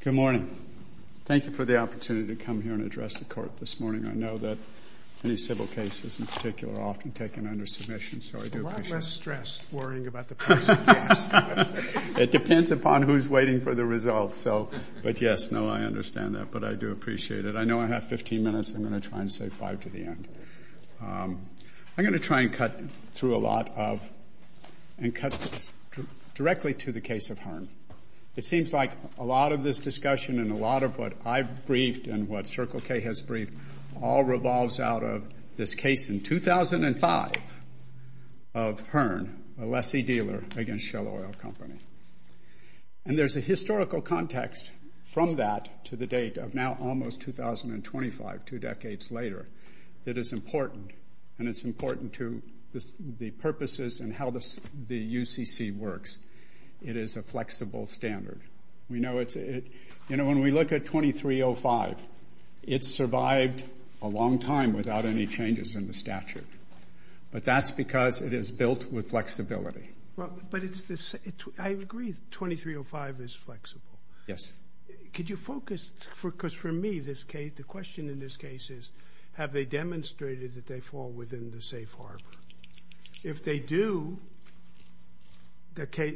Good morning. Thank you for the opportunity to come here and address the Court this morning. I know that many civil cases, in particular, are often taken under submission, so I do appreciate it. A lot less stress worrying about the price of gas. It depends upon who's waiting for the results, but yes, no, I understand that, but I do appreciate it. I know I have 15 minutes. I'm going to try and save five to the end. I'm going to try and cut through a lot of and cut directly to the case of Hearn. It seems like a lot of this discussion and a lot of what I've briefed and what Circle K has briefed all revolves out of this case in 2005 of Hearn, a lessee dealer against Shell Oil Company. And there's a historical context from that to the date of now almost 2025, two decades later, that is important, and it's important to the purposes and how the UCC works. It is a flexible standard. We know it's, you know, when we look at 2305, it survived a long time without any changes in the statute, but that's because it is built with flexibility. But it's this, I agree 2305 is flexible. Yes. Could you focus, because for me, the question in this case is, have they demonstrated that they fall within the safe harbor? If they do, by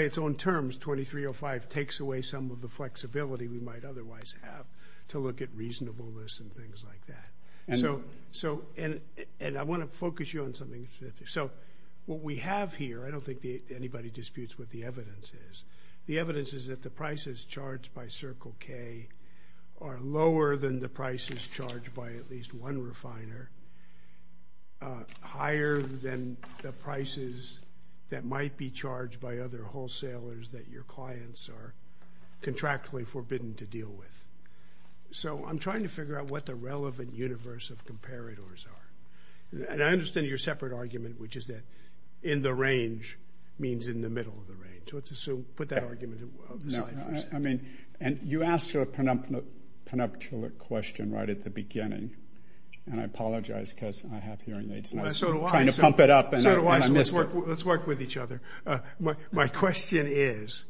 its own terms, 2305 takes away some of the flexibility we might otherwise have to look at reasonableness and things like that. And I want to focus you on something specific. So what we have here, I don't think anybody disputes what the evidence is. The evidence is that the prices charged by Circle K are lower than the prices charged by at least one refiner, higher than the prices that might be charged by other wholesalers that your clients are contractually forbidden to deal with. So I'm trying to figure out what the relevant universe of comparators are. And I understand your separate argument, which is that in the range means in the middle of the range. So let's assume, put that argument aside for a second. And you asked a prenuptial question right at the beginning, and I apologize because I have hearing aids. So do I. I'm trying to pump it up. So do I. So let's work with each other. My question is,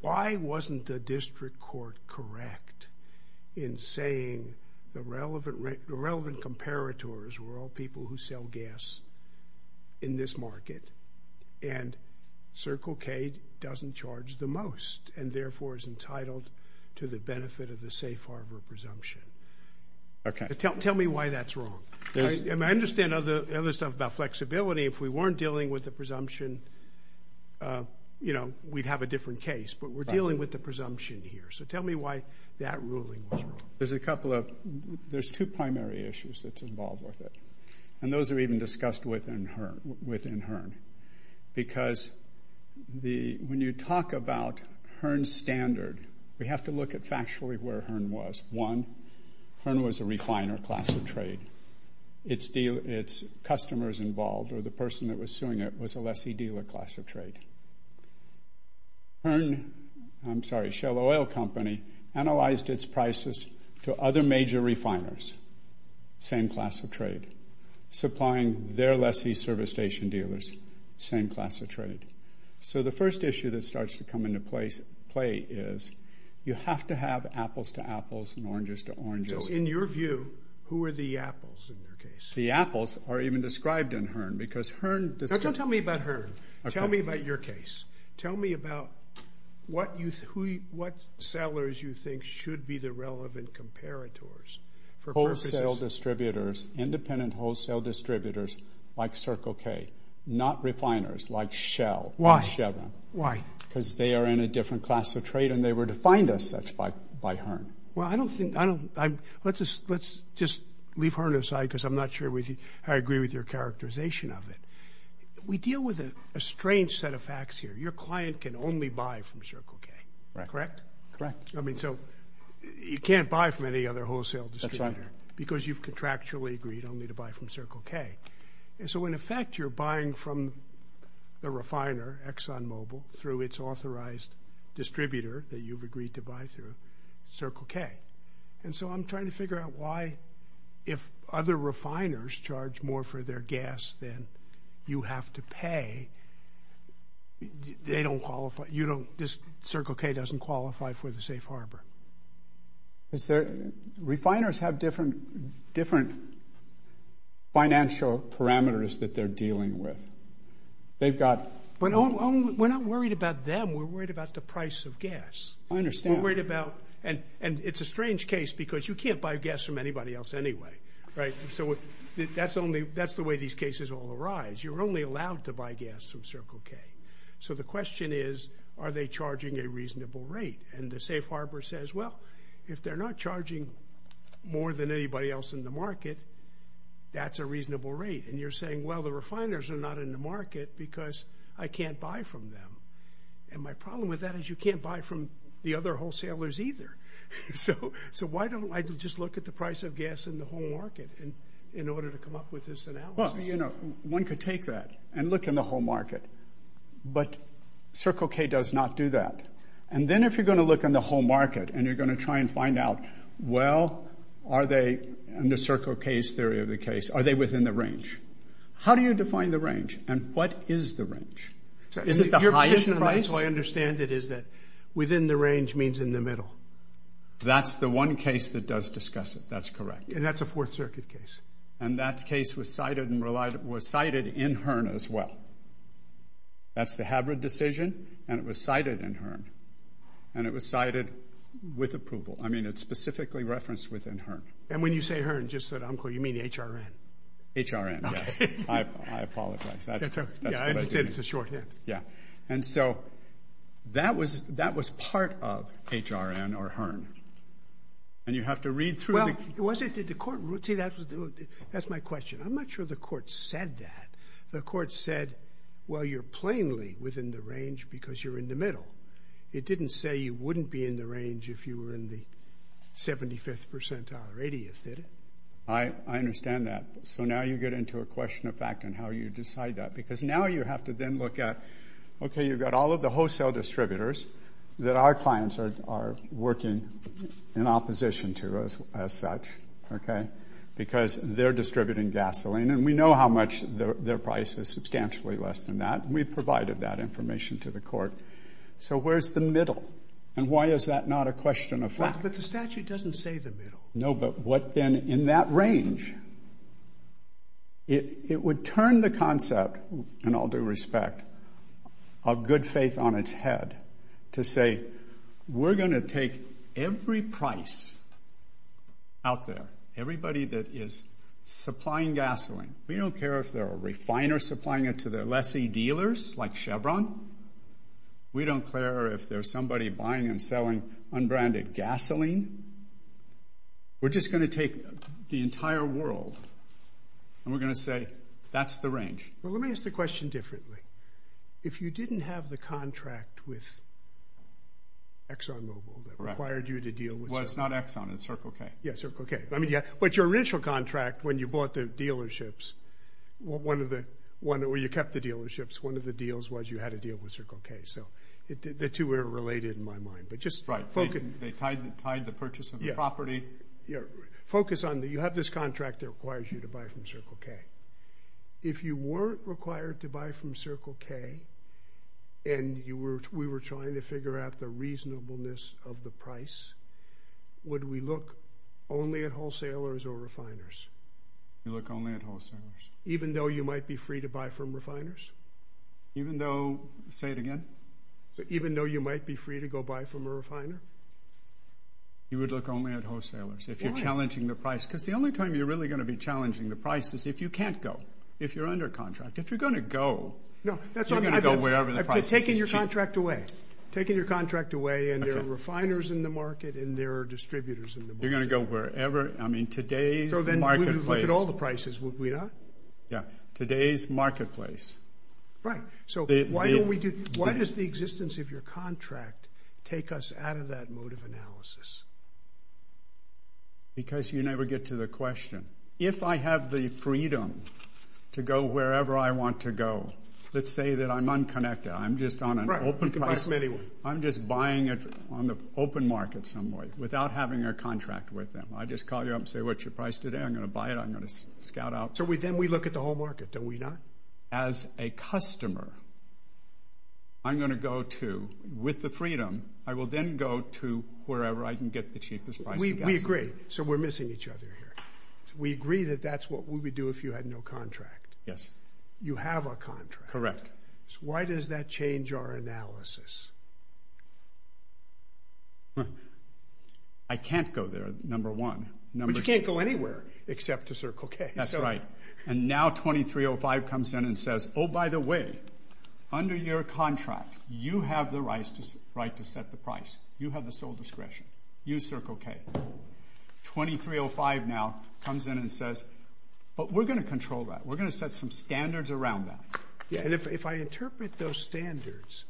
why wasn't the district court correct in saying the relevant comparators were all people who sell gas in this market and Circle K doesn't charge the most and therefore is entitled to the benefit of the safe harbor presumption? Tell me why that's wrong. I understand other stuff about flexibility. If we weren't dealing with the presumption, you know, we'd have a different case. But we're dealing with the presumption here. So tell me why that ruling was wrong. There's a couple of, there's two primary issues that's involved with it. And those are even discussed within HERN. Because when you talk about HERN standard, we have to look at factually where HERN was. One, HERN was a refiner class of trade. Its customers involved or the person that was suing it was a lessee dealer class of HERN, I'm sorry, Shell Oil Company, analyzed its prices to other major refiners, same class of trade, supplying their lessee service station dealers, same class of trade. So the first issue that starts to come into play is you have to have apples to apples and oranges to oranges. So in your view, who are the apples in your case? The apples are even described in HERN because HERN... No, don't tell me about HERN. Tell me about your case. Tell me about what you, who, what sellers you think should be the relevant comparators for purposes... Independent wholesale distributors like Circle K, not refiners like Shell or Chevron. Because they are in a different class of trade and they were defined as such by HERN. Well, I don't think, I don't, let's just leave HERN aside because I'm not sure I agree with your characterization of it. We deal with a strange set of facts here. Your client can only buy from Circle K, correct? Correct. Correct. I mean, so you can't buy from any other wholesale distributor. Because you've contractually agreed only to buy from Circle K. And so in effect, you're buying from the refiner, ExxonMobil, through its authorized distributor that you've agreed to buy through Circle K. And so I'm trying to figure out why if other refiners charge more for their gas than you have to pay, they don't qualify, you don't, Circle K doesn't qualify for the safe harbor. Is there, refiners have different financial parameters that they're dealing with. They've got... We're not worried about them, we're worried about the price of gas. I understand. We're worried about, and it's a strange case because you can't buy gas from anybody else anyway, right? So that's the way these cases all arise. You're only allowed to buy gas from Circle K. So the question is, are they charging a reasonable rate? And the safe harbor says, well, if they're not charging more than anybody else in the market, that's a reasonable rate. And you're saying, well, the refiners are not in the market because I can't buy from them. And my problem with that is you can't buy from the other wholesalers either. So why don't I just look at the price of gas in the whole market in order to come up with this analysis? Well, you know, one could take that and look in the whole market, but Circle K does not do that. And then if you're going to look in the whole market and you're going to try and find out, well, are they, in the Circle K's theory of the case, are they within the range? How do you define the range and what is the range? Is it the highest price? Your position, as far as I understand it, is that within the range means in the middle. That's the one case that does discuss it. That's correct. And that's a Fourth Circuit case. And that case was cited in Hearn as well. That's the Habbard decision, and it was cited in Hearn. And it was cited with approval. I mean, it's specifically referenced within Hearn. And when you say Hearn, just so that I'm clear, you mean HRN? HRN, yes. I apologize. That's what I did. It's a shorthand. Yeah. And so that was part of HRN or Hearn. And you have to read through the- Well, was it? Did the court- see, that's my question. I'm not sure the court said that. The court said, well, you're plainly within the range because you're in the middle. It didn't say you wouldn't be in the range if you were in the 75th percentile or 80th, did it? I understand that. So now you get into a question of fact on how you decide that. Because now you have to then look at, okay, you've got all of the wholesale distributors that our clients are working in opposition to as such, okay? Because they're distributing gasoline, and we know how much their price is substantially less than that. And we've provided that information to the court. So where's the middle? And why is that not a question of fact? Well, but the statute doesn't say the middle. No, but what then in that range? It would turn the concept, in all due respect, of good faith on its head to say, we're going to take every price out there, everybody that is supplying gasoline. We don't care if they're a refiner supplying it to their lessee dealers like Chevron. We don't care if there's somebody buying and selling unbranded gasoline. We're just going to take the entire world, and we're going to say, that's the range. Well, let me ask the question differently. If you didn't have the contract with ExxonMobil that required you to deal with- Well, it's not Exxon, it's Circle K. Yeah, Circle K. I mean, yeah. But your initial contract when you bought the dealerships, one of the, well, you kept the dealerships. One of the deals was you had to deal with Circle K, so the two were related in my mind. But just focus- Right. They tied the purchase of the property. Focus on that you have this contract that requires you to buy from Circle K. If you weren't required to buy from Circle K, and we were trying to figure out the reasonableness of the price, would we look only at wholesalers or refiners? You look only at wholesalers. Even though you might be free to buy from refiners? Even though, say it again? Even though you might be free to go buy from a refiner? You would look only at wholesalers. If you're challenging the price. Because the only time you're really going to be challenging the price is if you can't go. If you're under contract. If you're going to go- No. That's what I meant. You're going to go wherever the price is cheap. I've taken your contract away. Taken your contract away, and there are refiners in the market, and there are distributors in the market. You're going to go wherever. I mean, today's marketplace- So then, would you look at all the prices? Would we not? Yeah. Today's marketplace. Right. So, why don't we do- Yeah. Why does the existence of your contract take us out of that mode of analysis? Because you never get to the question. If I have the freedom to go wherever I want to go, let's say that I'm unconnected. I'm just on an open- You can buy from anyone. I'm just buying it on the open market somewhere without having a contract with them. I just call you up and say, what's your price today? I'm going to buy it. I'm going to scout out. So, then we look at the whole market. Don't we not? customer, I'm going to go to, with the freedom, I will then go to wherever I can get the cheapest price. We agree. So, we're missing each other here. So, we agree that that's what we would do if you had no contract. Yes. You have a contract. Correct. So, why does that change our analysis? I can't go there, number one. But you can't go anywhere except to Circle K. That's right. And now 2305 comes in and says, oh, by the way, under your contract, you have the right to set the price. You have the sole discretion. Use Circle K. 2305 now comes in and says, but we're going to control that. We're going to set some standards around that. Yes. And if I interpret those standards,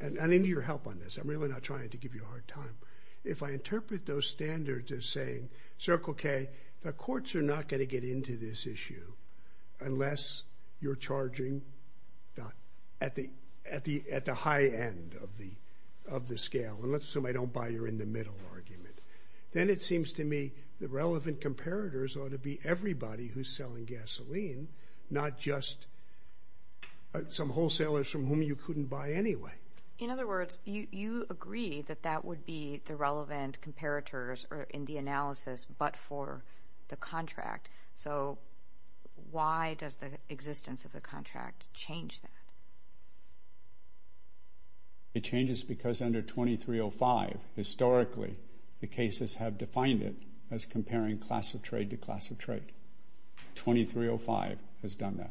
and I need your help on this. I'm really not trying to give you a hard time. If I interpret those standards as saying, Circle K, the courts are not going to get into this issue unless you're charging at the high end of the scale. And let's assume I don't buy your in the middle argument. Then it seems to me the relevant comparators ought to be everybody who's selling gasoline, not just some wholesalers from whom you couldn't buy anyway. In other words, you agree that that would be the relevant comparators in the analysis, but for the contract. So why does the existence of the contract change that? It changes because under 2305, historically, the cases have defined it as comparing class of trade to class of trade. 2305 has done that.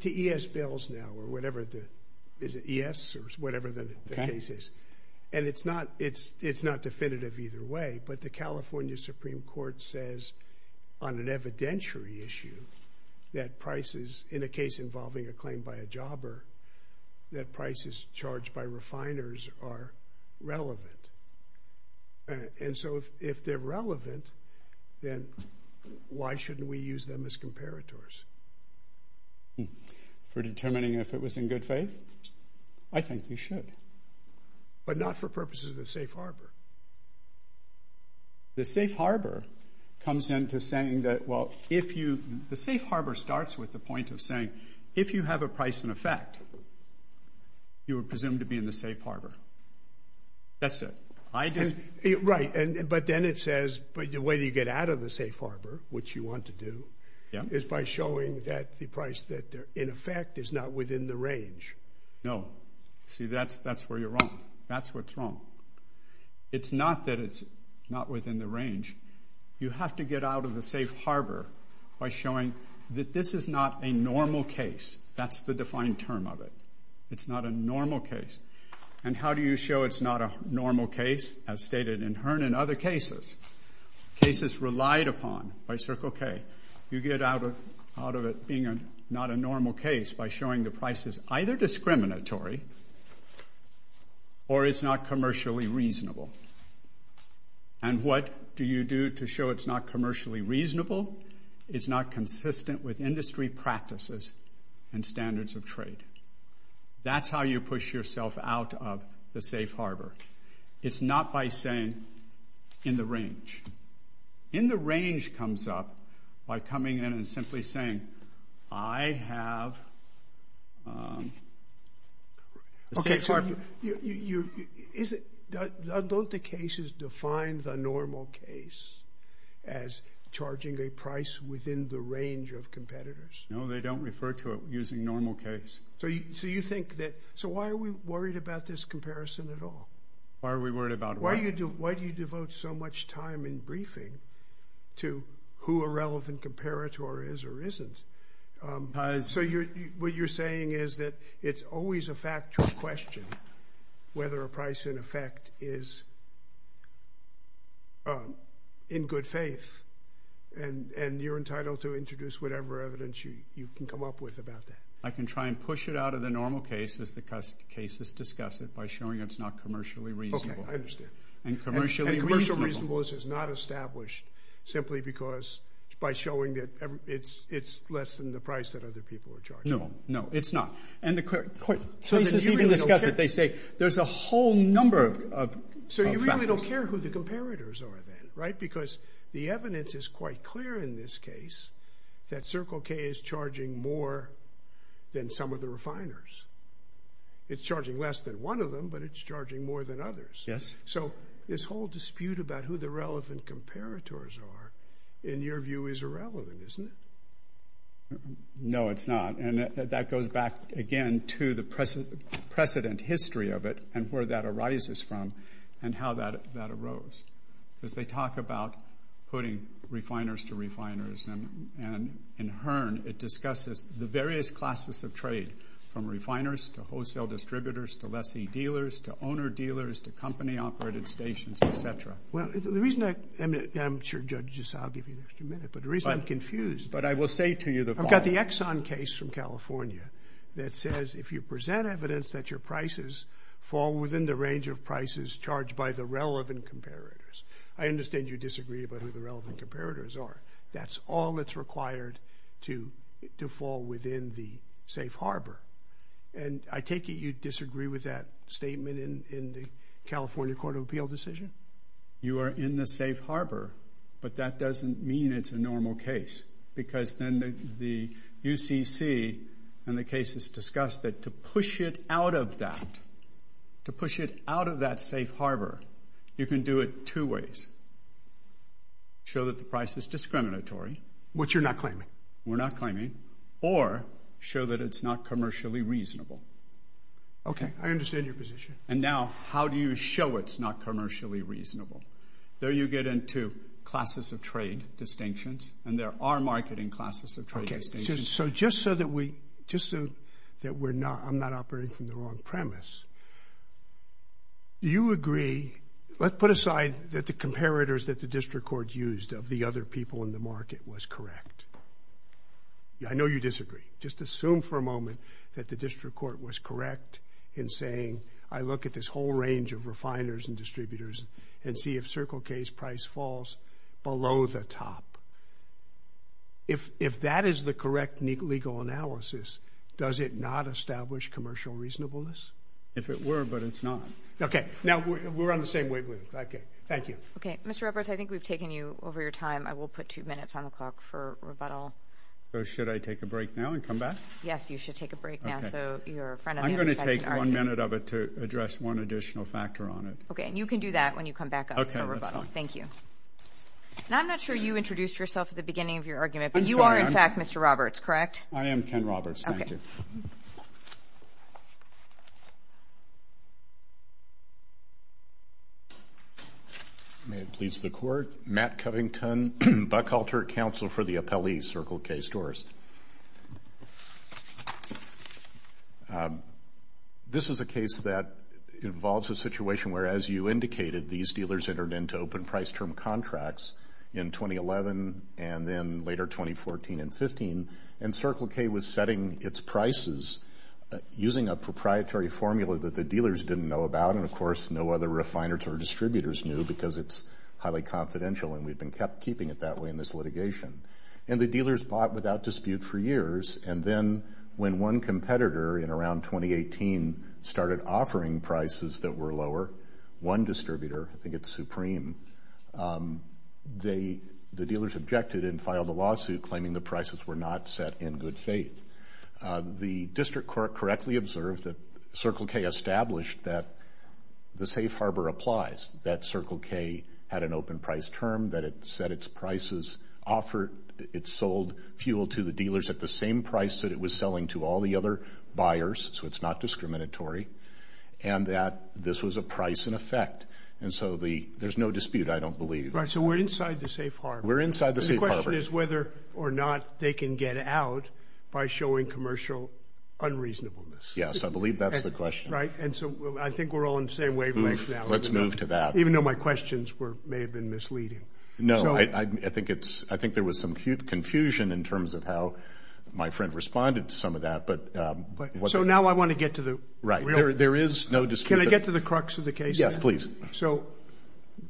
To ES bills now, or whatever. Is it ES or whatever the case is? And it's not definitive either way, but the California Supreme Court says on an evidentiary issue that prices, in a case involving a claim by a jobber, that prices charged by refiners are relevant. And so if they're relevant, then why shouldn't we use them as comparators? For determining if it was in good faith? I think you should. But not for purposes of the safe harbor. The safe harbor comes into saying that, well, the safe harbor starts with the point of saying if you have a price in effect, you are presumed to be in the safe harbor. That's it. Right. But then it says the way you get out of the safe harbor, which you want to do, is by showing that the price in effect is not within the range. No. See, that's where you're wrong. That's what's wrong. It's not that it's not within the range. You have to get out of the safe harbor by showing that this is not a normal case. That's the defined term of it. It's not a normal case. And how do you show it's not a normal case? As stated in Hearn and other cases, cases relied upon by Circle K, you get out of it being not a normal case by showing the price is either discriminatory or it's not commercially reasonable. And what do you do to show it's not commercially reasonable? It's not consistent with industry practices and standards of trade. That's how you push yourself out of the safe harbor. It's not by saying in the range. In the range comes up by coming in and simply saying, I have the safe harbor. Don't the cases define the normal case as charging a price within the range of competitors? No, they don't refer to it using normal case. So you think that, so why are we worried about this comparison at all? Why are we worried about it? Why do you devote so much time in briefing to who a relevant comparator is or isn't? So what you're saying is that it's always a factual question whether a price in effect is in good faith, and you're entitled to introduce whatever evidence you can come up with about that. I can try and push it out of the normal case as the cases discuss it by showing it's not commercially reasonable. Okay, I understand. And commercially reasonable. This is not established simply because by showing that it's less than the price that other people are charging. No, no, it's not. And the cases even discuss it. They say there's a whole number of factors. So you really don't care who the comparators are then, right? Because the evidence is quite clear in this case that Circle K is charging more than some of the refiners. It's charging less than one of them, but it's charging more than others. Yes. So this whole dispute about who the relevant comparators are, in your view, is irrelevant, isn't it? No, it's not. And that goes back, again, to the precedent history of it and where that arises from and how that arose. Because they talk about putting refiners to refiners, and in Hearn it discusses the various classes of trade from refiners to wholesale distributors to lessee dealers to owner-dealers to company-operated stations, et cetera. Well, the reason I'm not sure, Judge Giselle, I'll give you an extra minute. But the reason I'm confused. But I will say to you the following. I've got the Exxon case from California that says if you present evidence that your prices fall within the range of prices charged by the relevant comparators, I understand you disagree about who the relevant comparators are. That's all that's required to fall within the safe harbor. And I take it you disagree with that statement in the California Court of Appeal decision? You are in the safe harbor, but that doesn't mean it's a normal case. Because then the UCC and the case has discussed that to push it out of that, to push it out of that safe harbor, you can do it two ways. Show that the price is discriminatory. Which you're not claiming. We're not claiming. Or show that it's not commercially reasonable. I understand your position. And now how do you show it's not commercially reasonable? There you get into classes of trade distinctions, and there are marketing classes of trade distinctions. Okay. So just so that we, just so that we're not, I'm not operating from the wrong premise, do you agree, let's put aside that the comparators that the district court used of the other people in the market was correct. I know you disagree. Just assume for a moment that the district court was correct in saying, I look at this whole range of refiners and distributors and see if Circle K's price falls below the top. If that is the correct legal analysis, does it not establish commercial reasonableness? If it were, but it's not. Okay. Now we're on the same wavelength. Okay. Thank you. Mr. Roberts, I think we've taken you over your time. I will put two minutes on the clock for rebuttal. So should I take a break now and come back? Yes, you should take a break now. So you're a friend of the second argument. I'm going to take one minute of it to address one additional factor on it. Okay. And you can do that when you come back up for rebuttal. Okay. That's fine. Thank you. And I'm not sure you introduced yourself at the beginning of your argument, but you are in fact Mr. Roberts, correct? I am Ken Roberts. Thank you. Okay. May it please the Court. Matt Covington, Buckhalter Council for the Appellee, Circle K Stores. This is a case that involves a situation where, as you indicated, these dealers entered into open price term contracts in 2011 and then later 2014 and 2015, and Circle K was setting its prices using a proprietary formula that the dealers didn't know about, and of course no other refiners or distributors knew because it's highly confidential, and we've been keeping it that way in this litigation. And the dealers bought without dispute for years. And then when one competitor in around 2018 started offering prices that were lower, one distributor, I think it's Supreme, the dealers objected and filed a lawsuit claiming the prices were not set in good faith. The district court correctly observed that Circle K established that the safe harbor applies, that Circle K had an open price term, that it set its prices offered, it sold fuel to the dealers at the same price that it was selling to all the other buyers, so it's not discriminatory, and that this was a price and effect. And so there's no dispute, I don't believe. Right, so we're inside the safe harbor. We're inside the safe harbor. The question is whether or not they can get out by showing commercial unreasonableness. Yes, I believe that's the question. Right, and so I think we're all on the same wavelength now. Let's move to that. Even though my questions may have been misleading. No, I think there was some confusion in terms of how my friend responded to some of that. So now I want to get to the real thing. Right, there is no dispute. Can I get to the crux of the case? Yes, please. So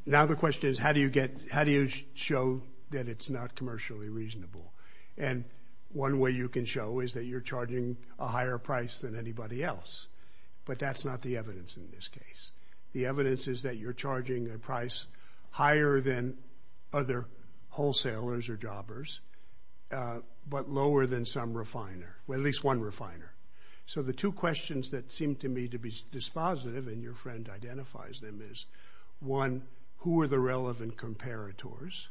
now the question is how do you show that it's not commercially reasonable? And one way you can show is that you're charging a higher price than anybody else, but that's not the evidence in this case. The evidence is that you're charging a price higher than other wholesalers or jobbers, but lower than some refiner, at least one refiner. So the two questions that seem to me to be dispositive, and your friend identifies them, is one, who are the relevant comparators?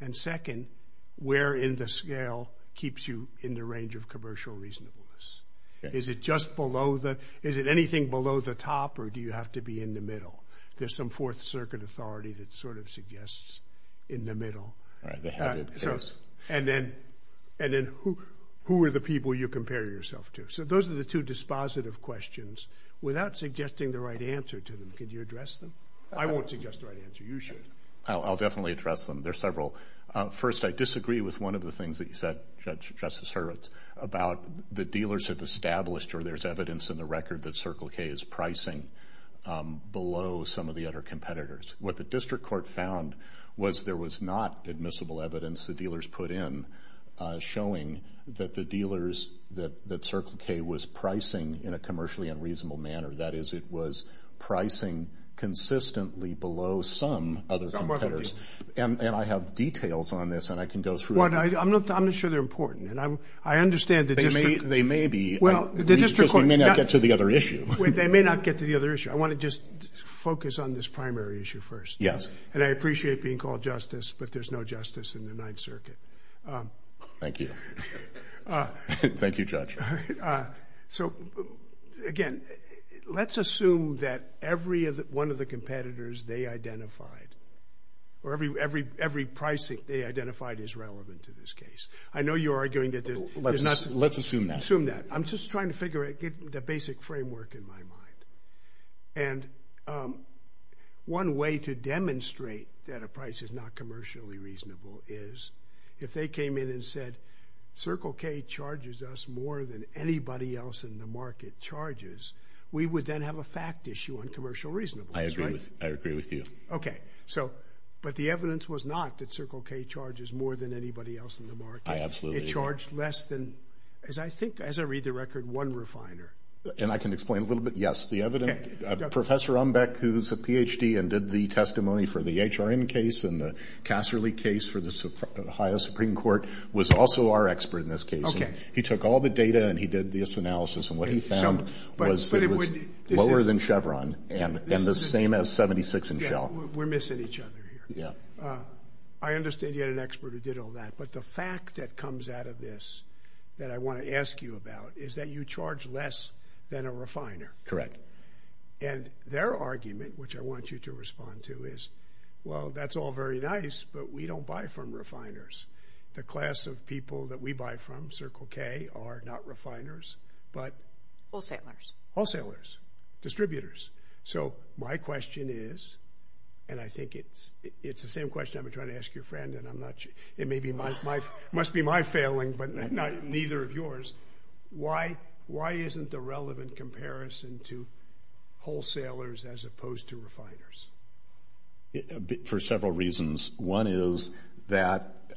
And second, where in the scale keeps you in the range of commercial reasonableness? Is it just below the – is it anything below the top or do you have to be in the middle? There's some Fourth Circuit authority that sort of suggests in the middle. Right, they have it, yes. And then who are the people you compare yourself to? So those are the two dispositive questions. Without suggesting the right answer to them, can you address them? I won't suggest the right answer. You should. I'll definitely address them. There are several. First, I disagree with one of the things that you said, Judge Justice Hurwitz, about the dealership established or there's evidence in the record that Circle K is pricing below some of the other competitors. What the district court found was there was not admissible evidence the dealers put in showing that the dealers that Circle K was pricing in a commercially unreasonable manner. That is, it was pricing consistently below some other competitors. And I have details on this, and I can go through it. I'm not sure they're important. And I understand the district – They may be. Well, the district court – Because we may not get to the other issue. They may not get to the other issue. I want to just focus on this primary issue first. And I appreciate being called justice, but there's no justice in the Ninth Circuit. Thank you. Thank you, Judge. So, again, let's assume that every one of the competitors they identified or every pricing they identified is relevant to this case. I know you're arguing that there's not – Let's assume that. Assume that. I'm just trying to figure out – get the basic framework in my mind. And one way to demonstrate that a price is not commercially reasonable is if they came in and said, Circle K charges us more than anybody else in the market charges, we would then have a fact issue on commercial reasonableness, right? I agree with you. Okay. But the evidence was not that Circle K charges more than anybody else in the market. I absolutely agree. They charged less than, as I think, as I read the record, one refiner. And I can explain a little bit. Yes, the evidence – Professor Umbeck, who's a Ph.D. and did the testimony for the HRN case and the Casserly case for the Ohio Supreme Court, was also our expert in this case. Okay. He took all the data, and he did this analysis, and what he found was that it was lower than Chevron and the same as 76 and Shell. We're missing each other here. Yeah. I understand you had an expert who did all that. But the fact that comes out of this that I want to ask you about is that you charge less than a refiner. And their argument, which I want you to respond to, is, well, that's all very nice, but we don't buy from refiners. The class of people that we buy from, Circle K, are not refiners, but – Wholesalers. Distributors. So my question is, and I think it's the same question I've been trying to ask your friend, and it must be my failing, but neither of yours, why isn't the relevant comparison to wholesalers as opposed to refiners? For several reasons. One is that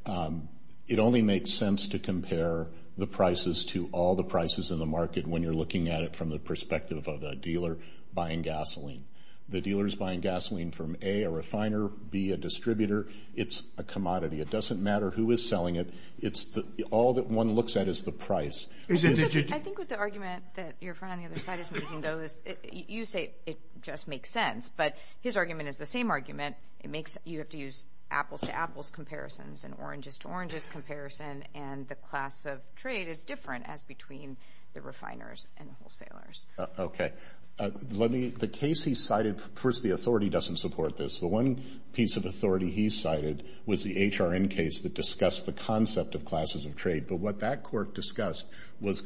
it only makes sense to compare the prices to all the prices in the market when you're looking at it from the perspective of a dealer buying gasoline. The dealer is buying gasoline from, A, a refiner, B, a distributor. It's a commodity. It doesn't matter who is selling it. It's all that one looks at is the price. I think what the argument that your friend on the other side is making, though, is you say it just makes sense, but his argument is the same argument. You have to use apples-to-apples comparisons and oranges-to-oranges comparison, and the class of trade is different as between the refiners and the wholesalers. Okay. The case he cited, first, the authority doesn't support this. The one piece of authority he cited was the HRN case that discussed the concept of classes of trade, but what that court discussed was a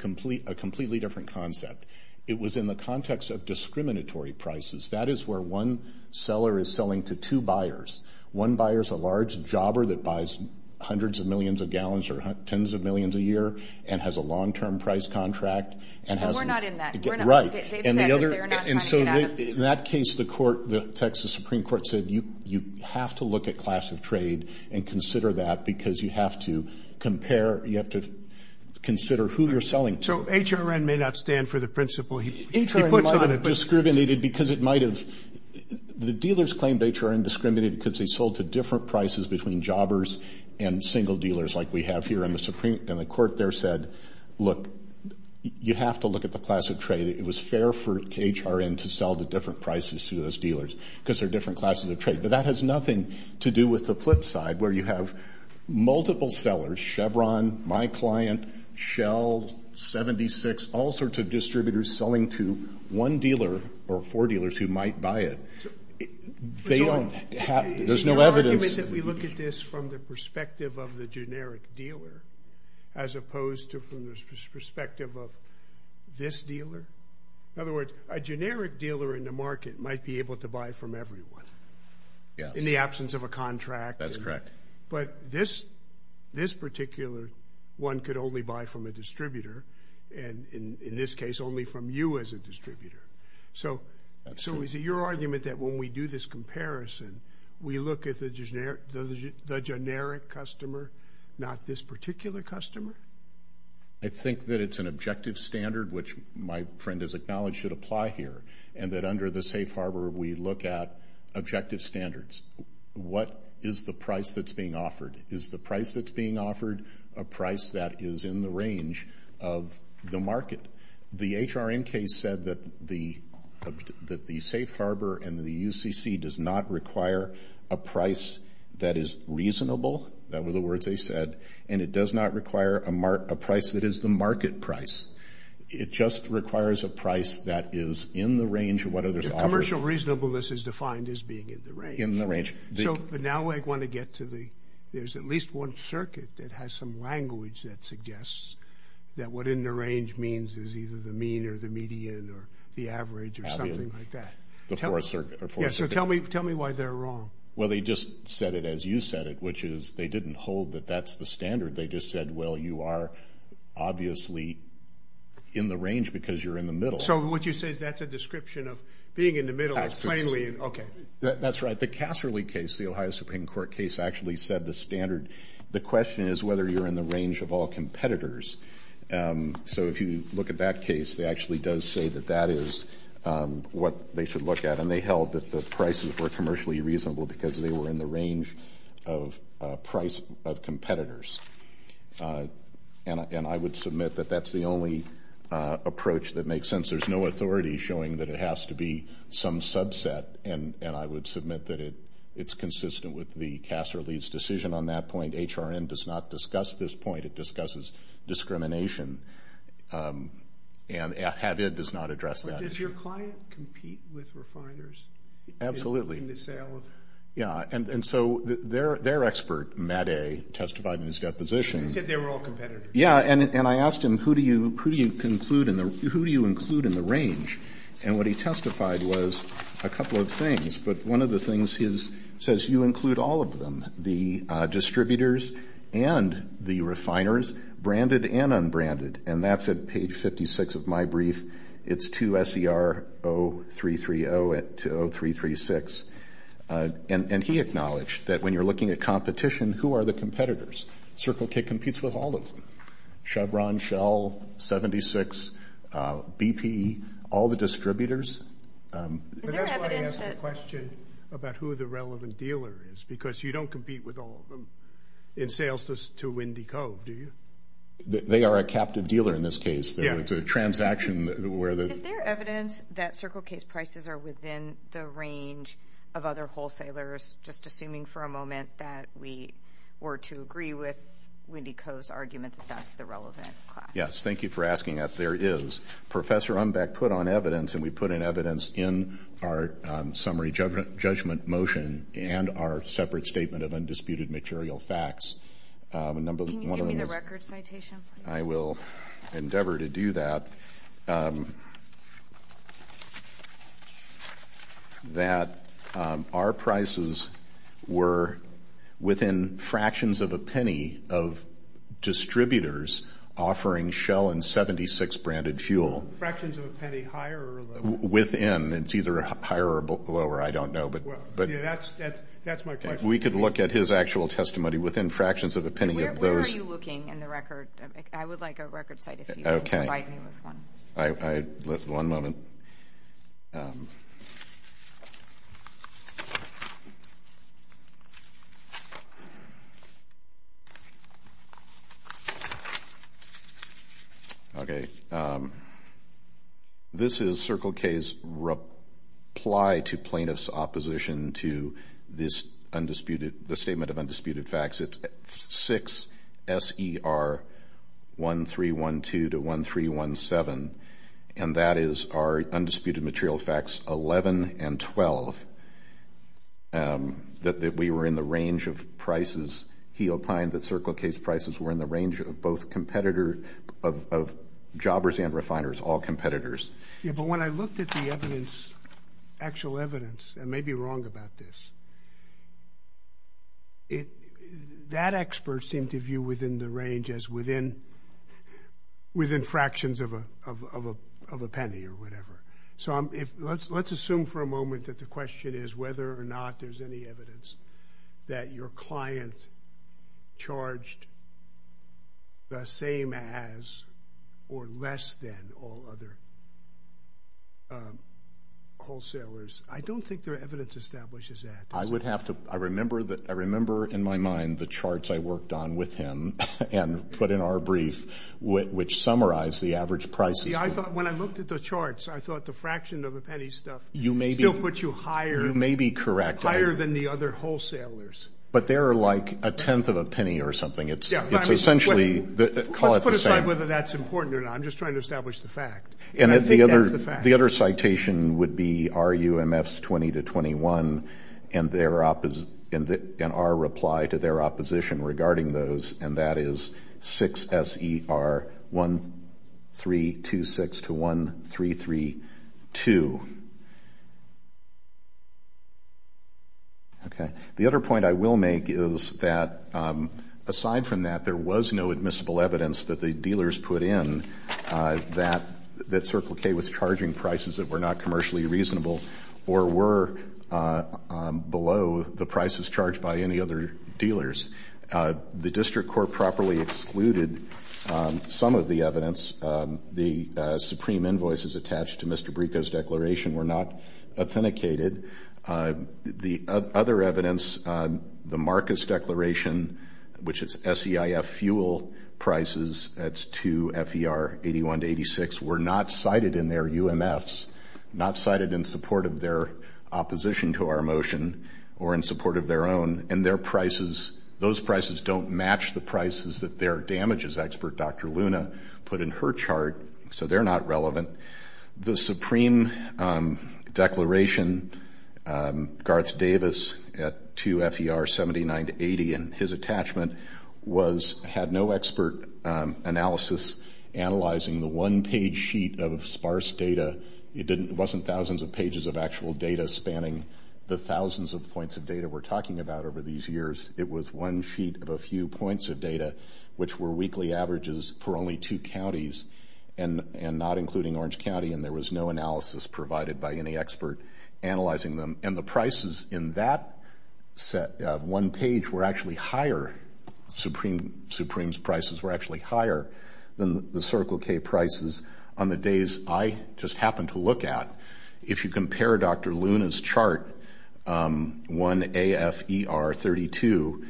completely different concept. It was in the context of discriminatory prices. That is where one seller is selling to two buyers. One buyer is a large jobber that buys hundreds of millions of gallons or tens of millions a year and has a long-term price contract. And we're not in that. Right. They've said that they're not trying to get at them. So in that case, the court, the Texas Supreme Court said you have to look at class of trade and consider that because you have to compare, you have to consider who you're selling to. So HRN may not stand for the principle he puts on it. HRN might have discriminated because it might have. The dealers claimed HRN discriminated because they sold to different prices between jobbers and single dealers like we have here. And the court there said, look, you have to look at the class of trade. It was fair for HRN to sell to different prices to those dealers because they're different classes of trade. But that has nothing to do with the flip side where you have multiple sellers, Chevron, my client, Shell, 76, all sorts of distributors selling to one dealer or four dealers who might buy it. They don't have to. There's no evidence. Is your argument that we look at this from the perspective of the generic dealer as opposed to from the perspective of this dealer? In other words, a generic dealer in the market might be able to buy from everyone in the absence of a contract. That's correct. But this particular one could only buy from a distributor, and in this case only from you as a distributor. So is it your argument that when we do this comparison, we look at the generic customer, not this particular customer? I think that it's an objective standard, which my friend has acknowledged should apply here, and that under the Safe Harbor we look at objective standards. What is the price that's being offered? Is the price that's being offered a price that is in the range of the market? The HRNK said that the Safe Harbor and the UCC does not require a price that is reasonable. That were the words they said. And it does not require a price that is the market price. It just requires a price that is in the range of what others offer. Commercial reasonableness is defined as being in the range. In the range. So now I want to get to the there's at least one circuit that has some language that suggests that what in the range means is either the mean or the median or the average or something like that. The fourth circuit. Yeah, so tell me why they're wrong. Well, they just said it as you said it, which is they didn't hold that that's the standard. They just said, well, you are obviously in the range because you're in the middle. So what you're saying is that's a description of being in the middle plainly. That's right. The Casserly case, the Ohio Supreme Court case, actually said the standard. The question is whether you're in the range of all competitors. So if you look at that case, they actually does say that that is what they should look at. And they held that the prices were commercially reasonable because they were in the range of price of competitors. And I would submit that that's the only approach that makes sense. There's no authority showing that it has to be some subset. And I would submit that it's consistent with the Casserly's decision on that point. HRN does not discuss this point. It discusses discrimination. And Havid does not address that issue. But does your client compete with refiners? Absolutely. In the sale of. Yeah, and so their expert, Matt A., testified in his deposition. He said they were all competitors. Yeah, and I asked him, who do you include in the range? And what he testified was a couple of things. But one of the things he says, you include all of them, the distributors and the refiners, branded and unbranded. And that's at page 56 of my brief. It's 2SER0330 to 0336. And he acknowledged that when you're looking at competition, who are the competitors? Circle K competes with all of them. Chevron, Shell, 76, BP. All the distributors. But that's why I asked the question about who the relevant dealer is, because you don't compete with all of them in sales to Windy Cove, do you? They are a captive dealer in this case. It's a transaction where the. Is there evidence that Circle K's prices are within the range of other wholesalers, just assuming for a moment that we were to agree with Windy Cove's argument that that's the relevant class? Yes, thank you for asking that. There is. Professor Unbeck put on evidence, and we put in evidence in our summary judgment motion and our separate statement of undisputed material facts. Can you give me the record citation, please? I will endeavor to do that. I believe that our prices were within fractions of a penny of distributors offering Shell and 76 branded fuel. Fractions of a penny higher or lower? Within. It's either higher or lower. I don't know. That's my question. We could look at his actual testimony within fractions of a penny of those. Where are you looking in the record? I would like a record cite if you can provide me with one. One moment. Okay. This is Circle K's reply to plaintiff's opposition to this undisputed, the statement of undisputed facts. It's 6SER1312 to 1317, and that is our undisputed material facts 11 and 12, that we were in the range of prices. He opined that Circle K's prices were in the range of both competitors, of jobbers and refiners, all competitors. Yeah, but when I looked at the evidence, actual evidence, and may be wrong about this, that expert seemed to view within the range as within fractions of a penny or whatever. So let's assume for a moment that the question is whether or not there's any evidence that your client charged the same as or less than all other wholesalers. I don't think there are evidence establishes that. I would have to – I remember in my mind the charts I worked on with him and put in our brief, which summarized the average prices. See, I thought when I looked at the charts, I thought the fraction of a penny stuff still put you higher. You may be correct. Higher than the other wholesalers. But they're like a tenth of a penny or something. It's essentially – call it the same. Let's put aside whether that's important or not. I'm just trying to establish the fact. And I think that's the fact. The other citation would be RUMFs 20 to 21 and our reply to their opposition regarding those, and that is 6SER1326 to 1332. Okay. The other point I will make is that aside from that, there was no admissible evidence that the dealers put in that Circle K was charging prices that were not commercially reasonable or were below the prices charged by any other dealers. The district court properly excluded some of the evidence. The supreme invoices attached to Mr. Brico's declaration were not authenticated. The other evidence, the Marcus declaration, which is SEIF fuel prices, that's 2FER81 to 86, were not cited in their UMFs, not cited in support of their opposition to our motion or in support of their own. And their prices – those prices don't match the prices that their damages expert, Dr. Luna, put in her chart. So they're not relevant. The supreme declaration, Garth Davis, at 2FER79 to 80, and his attachment was – had no expert analysis analyzing the one-page sheet of sparse data. It didn't – it wasn't thousands of pages of actual data spanning the thousands of points of data we're talking about over these years. It was one sheet of a few points of data, which were weekly averages for only two counties and not including Orange County, and there was no analysis provided by any expert analyzing them. And the prices in that one page were actually higher – supreme's prices were actually higher than the Circle K prices on the days I just happened to look at. If you compare Dr. Luna's chart, 1AFER32,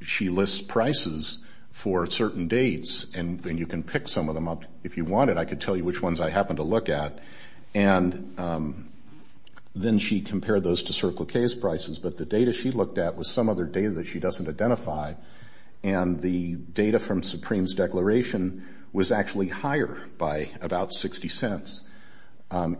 she lists prices for certain dates, and you can pick some of them up if you wanted. I could tell you which ones I happened to look at. And then she compared those to Circle K's prices, but the data she looked at was some other data that she doesn't identify, and the data from supreme's declaration was actually higher by about 60 cents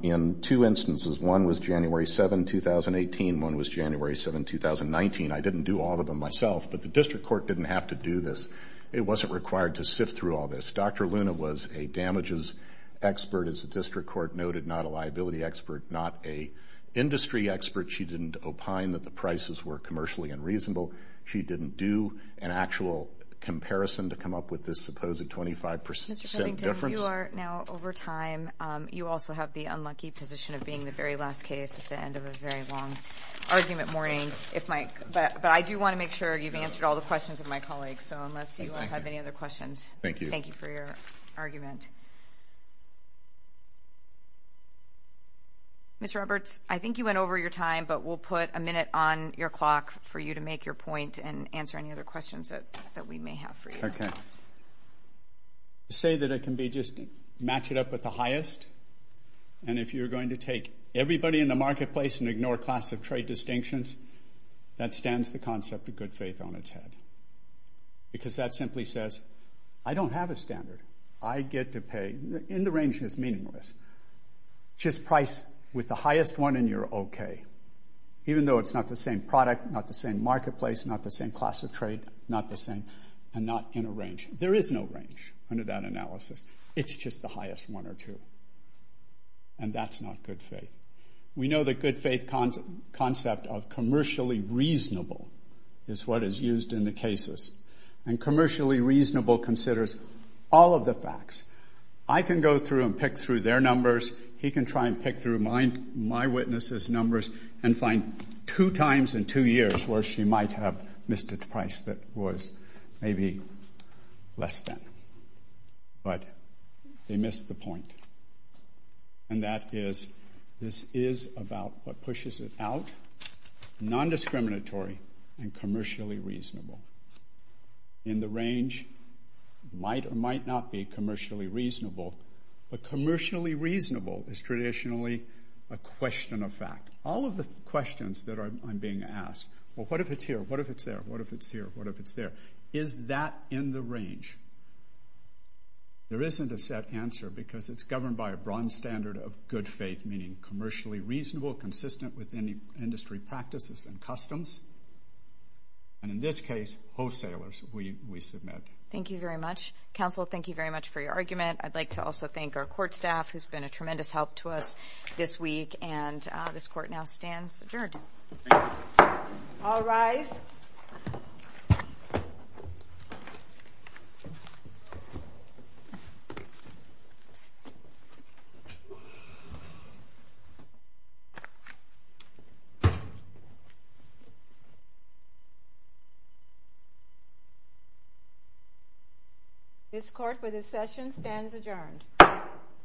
in two instances. One was January 7, 2018. One was January 7, 2019. I didn't do all of them myself, but the district court didn't have to do this. It wasn't required to sift through all this. Dr. Luna was a damages expert, as the district court noted, not a liability expert, not a industry expert. She didn't opine that the prices were commercially unreasonable. She didn't do an actual comparison to come up with this supposed 25-percent difference. Mr. Covington, you are now over time. You also have the unlucky position of being the very last case at the end of a very long argument morning, but I do want to make sure you've answered all the questions of my colleagues, so unless you have any other questions, thank you for your argument. Ms. Roberts, I think you went over your time, but we'll put a minute on your clock for you to make your point and answer any other questions that we may have for you. Okay. To say that it can be just match it up with the highest, and if you're going to take everybody in the marketplace and ignore class of trade distinctions, that stands the concept of good faith on its head because that simply says I don't have a standard. I get to pay. In the range, it's meaningless. Just price with the highest one and you're okay, even though it's not the same product, not the same marketplace, not the same class of trade, not the same, and not in a range. There is no range under that analysis. It's just the highest one or two, and that's not good faith. We know the good faith concept of commercially reasonable is what is used in the cases, and commercially reasonable considers all of the facts. I can go through and pick through their numbers. He can try and pick through my witness's numbers and find two times in two years where she might have missed a price that was maybe less than, but they missed the point, and that is this is about what pushes it out, non-discriminatory and commercially reasonable. In the range, might or might not be commercially reasonable, but commercially reasonable is traditionally a question of fact. All of the questions that I'm being asked, well, what if it's here? What if it's there? What if it's here? What if it's there? Is that in the range? There isn't a set answer because it's governed by a bronze standard of good faith, meaning commercially reasonable, consistent with any industry practices and customs, and in this case, wholesalers we submit. Thank you very much. Counsel, thank you very much for your argument. I'd like to also thank our court staff, who's been a tremendous help to us this week, and this court now stands adjourned. All rise. This court, for this session, stands adjourned.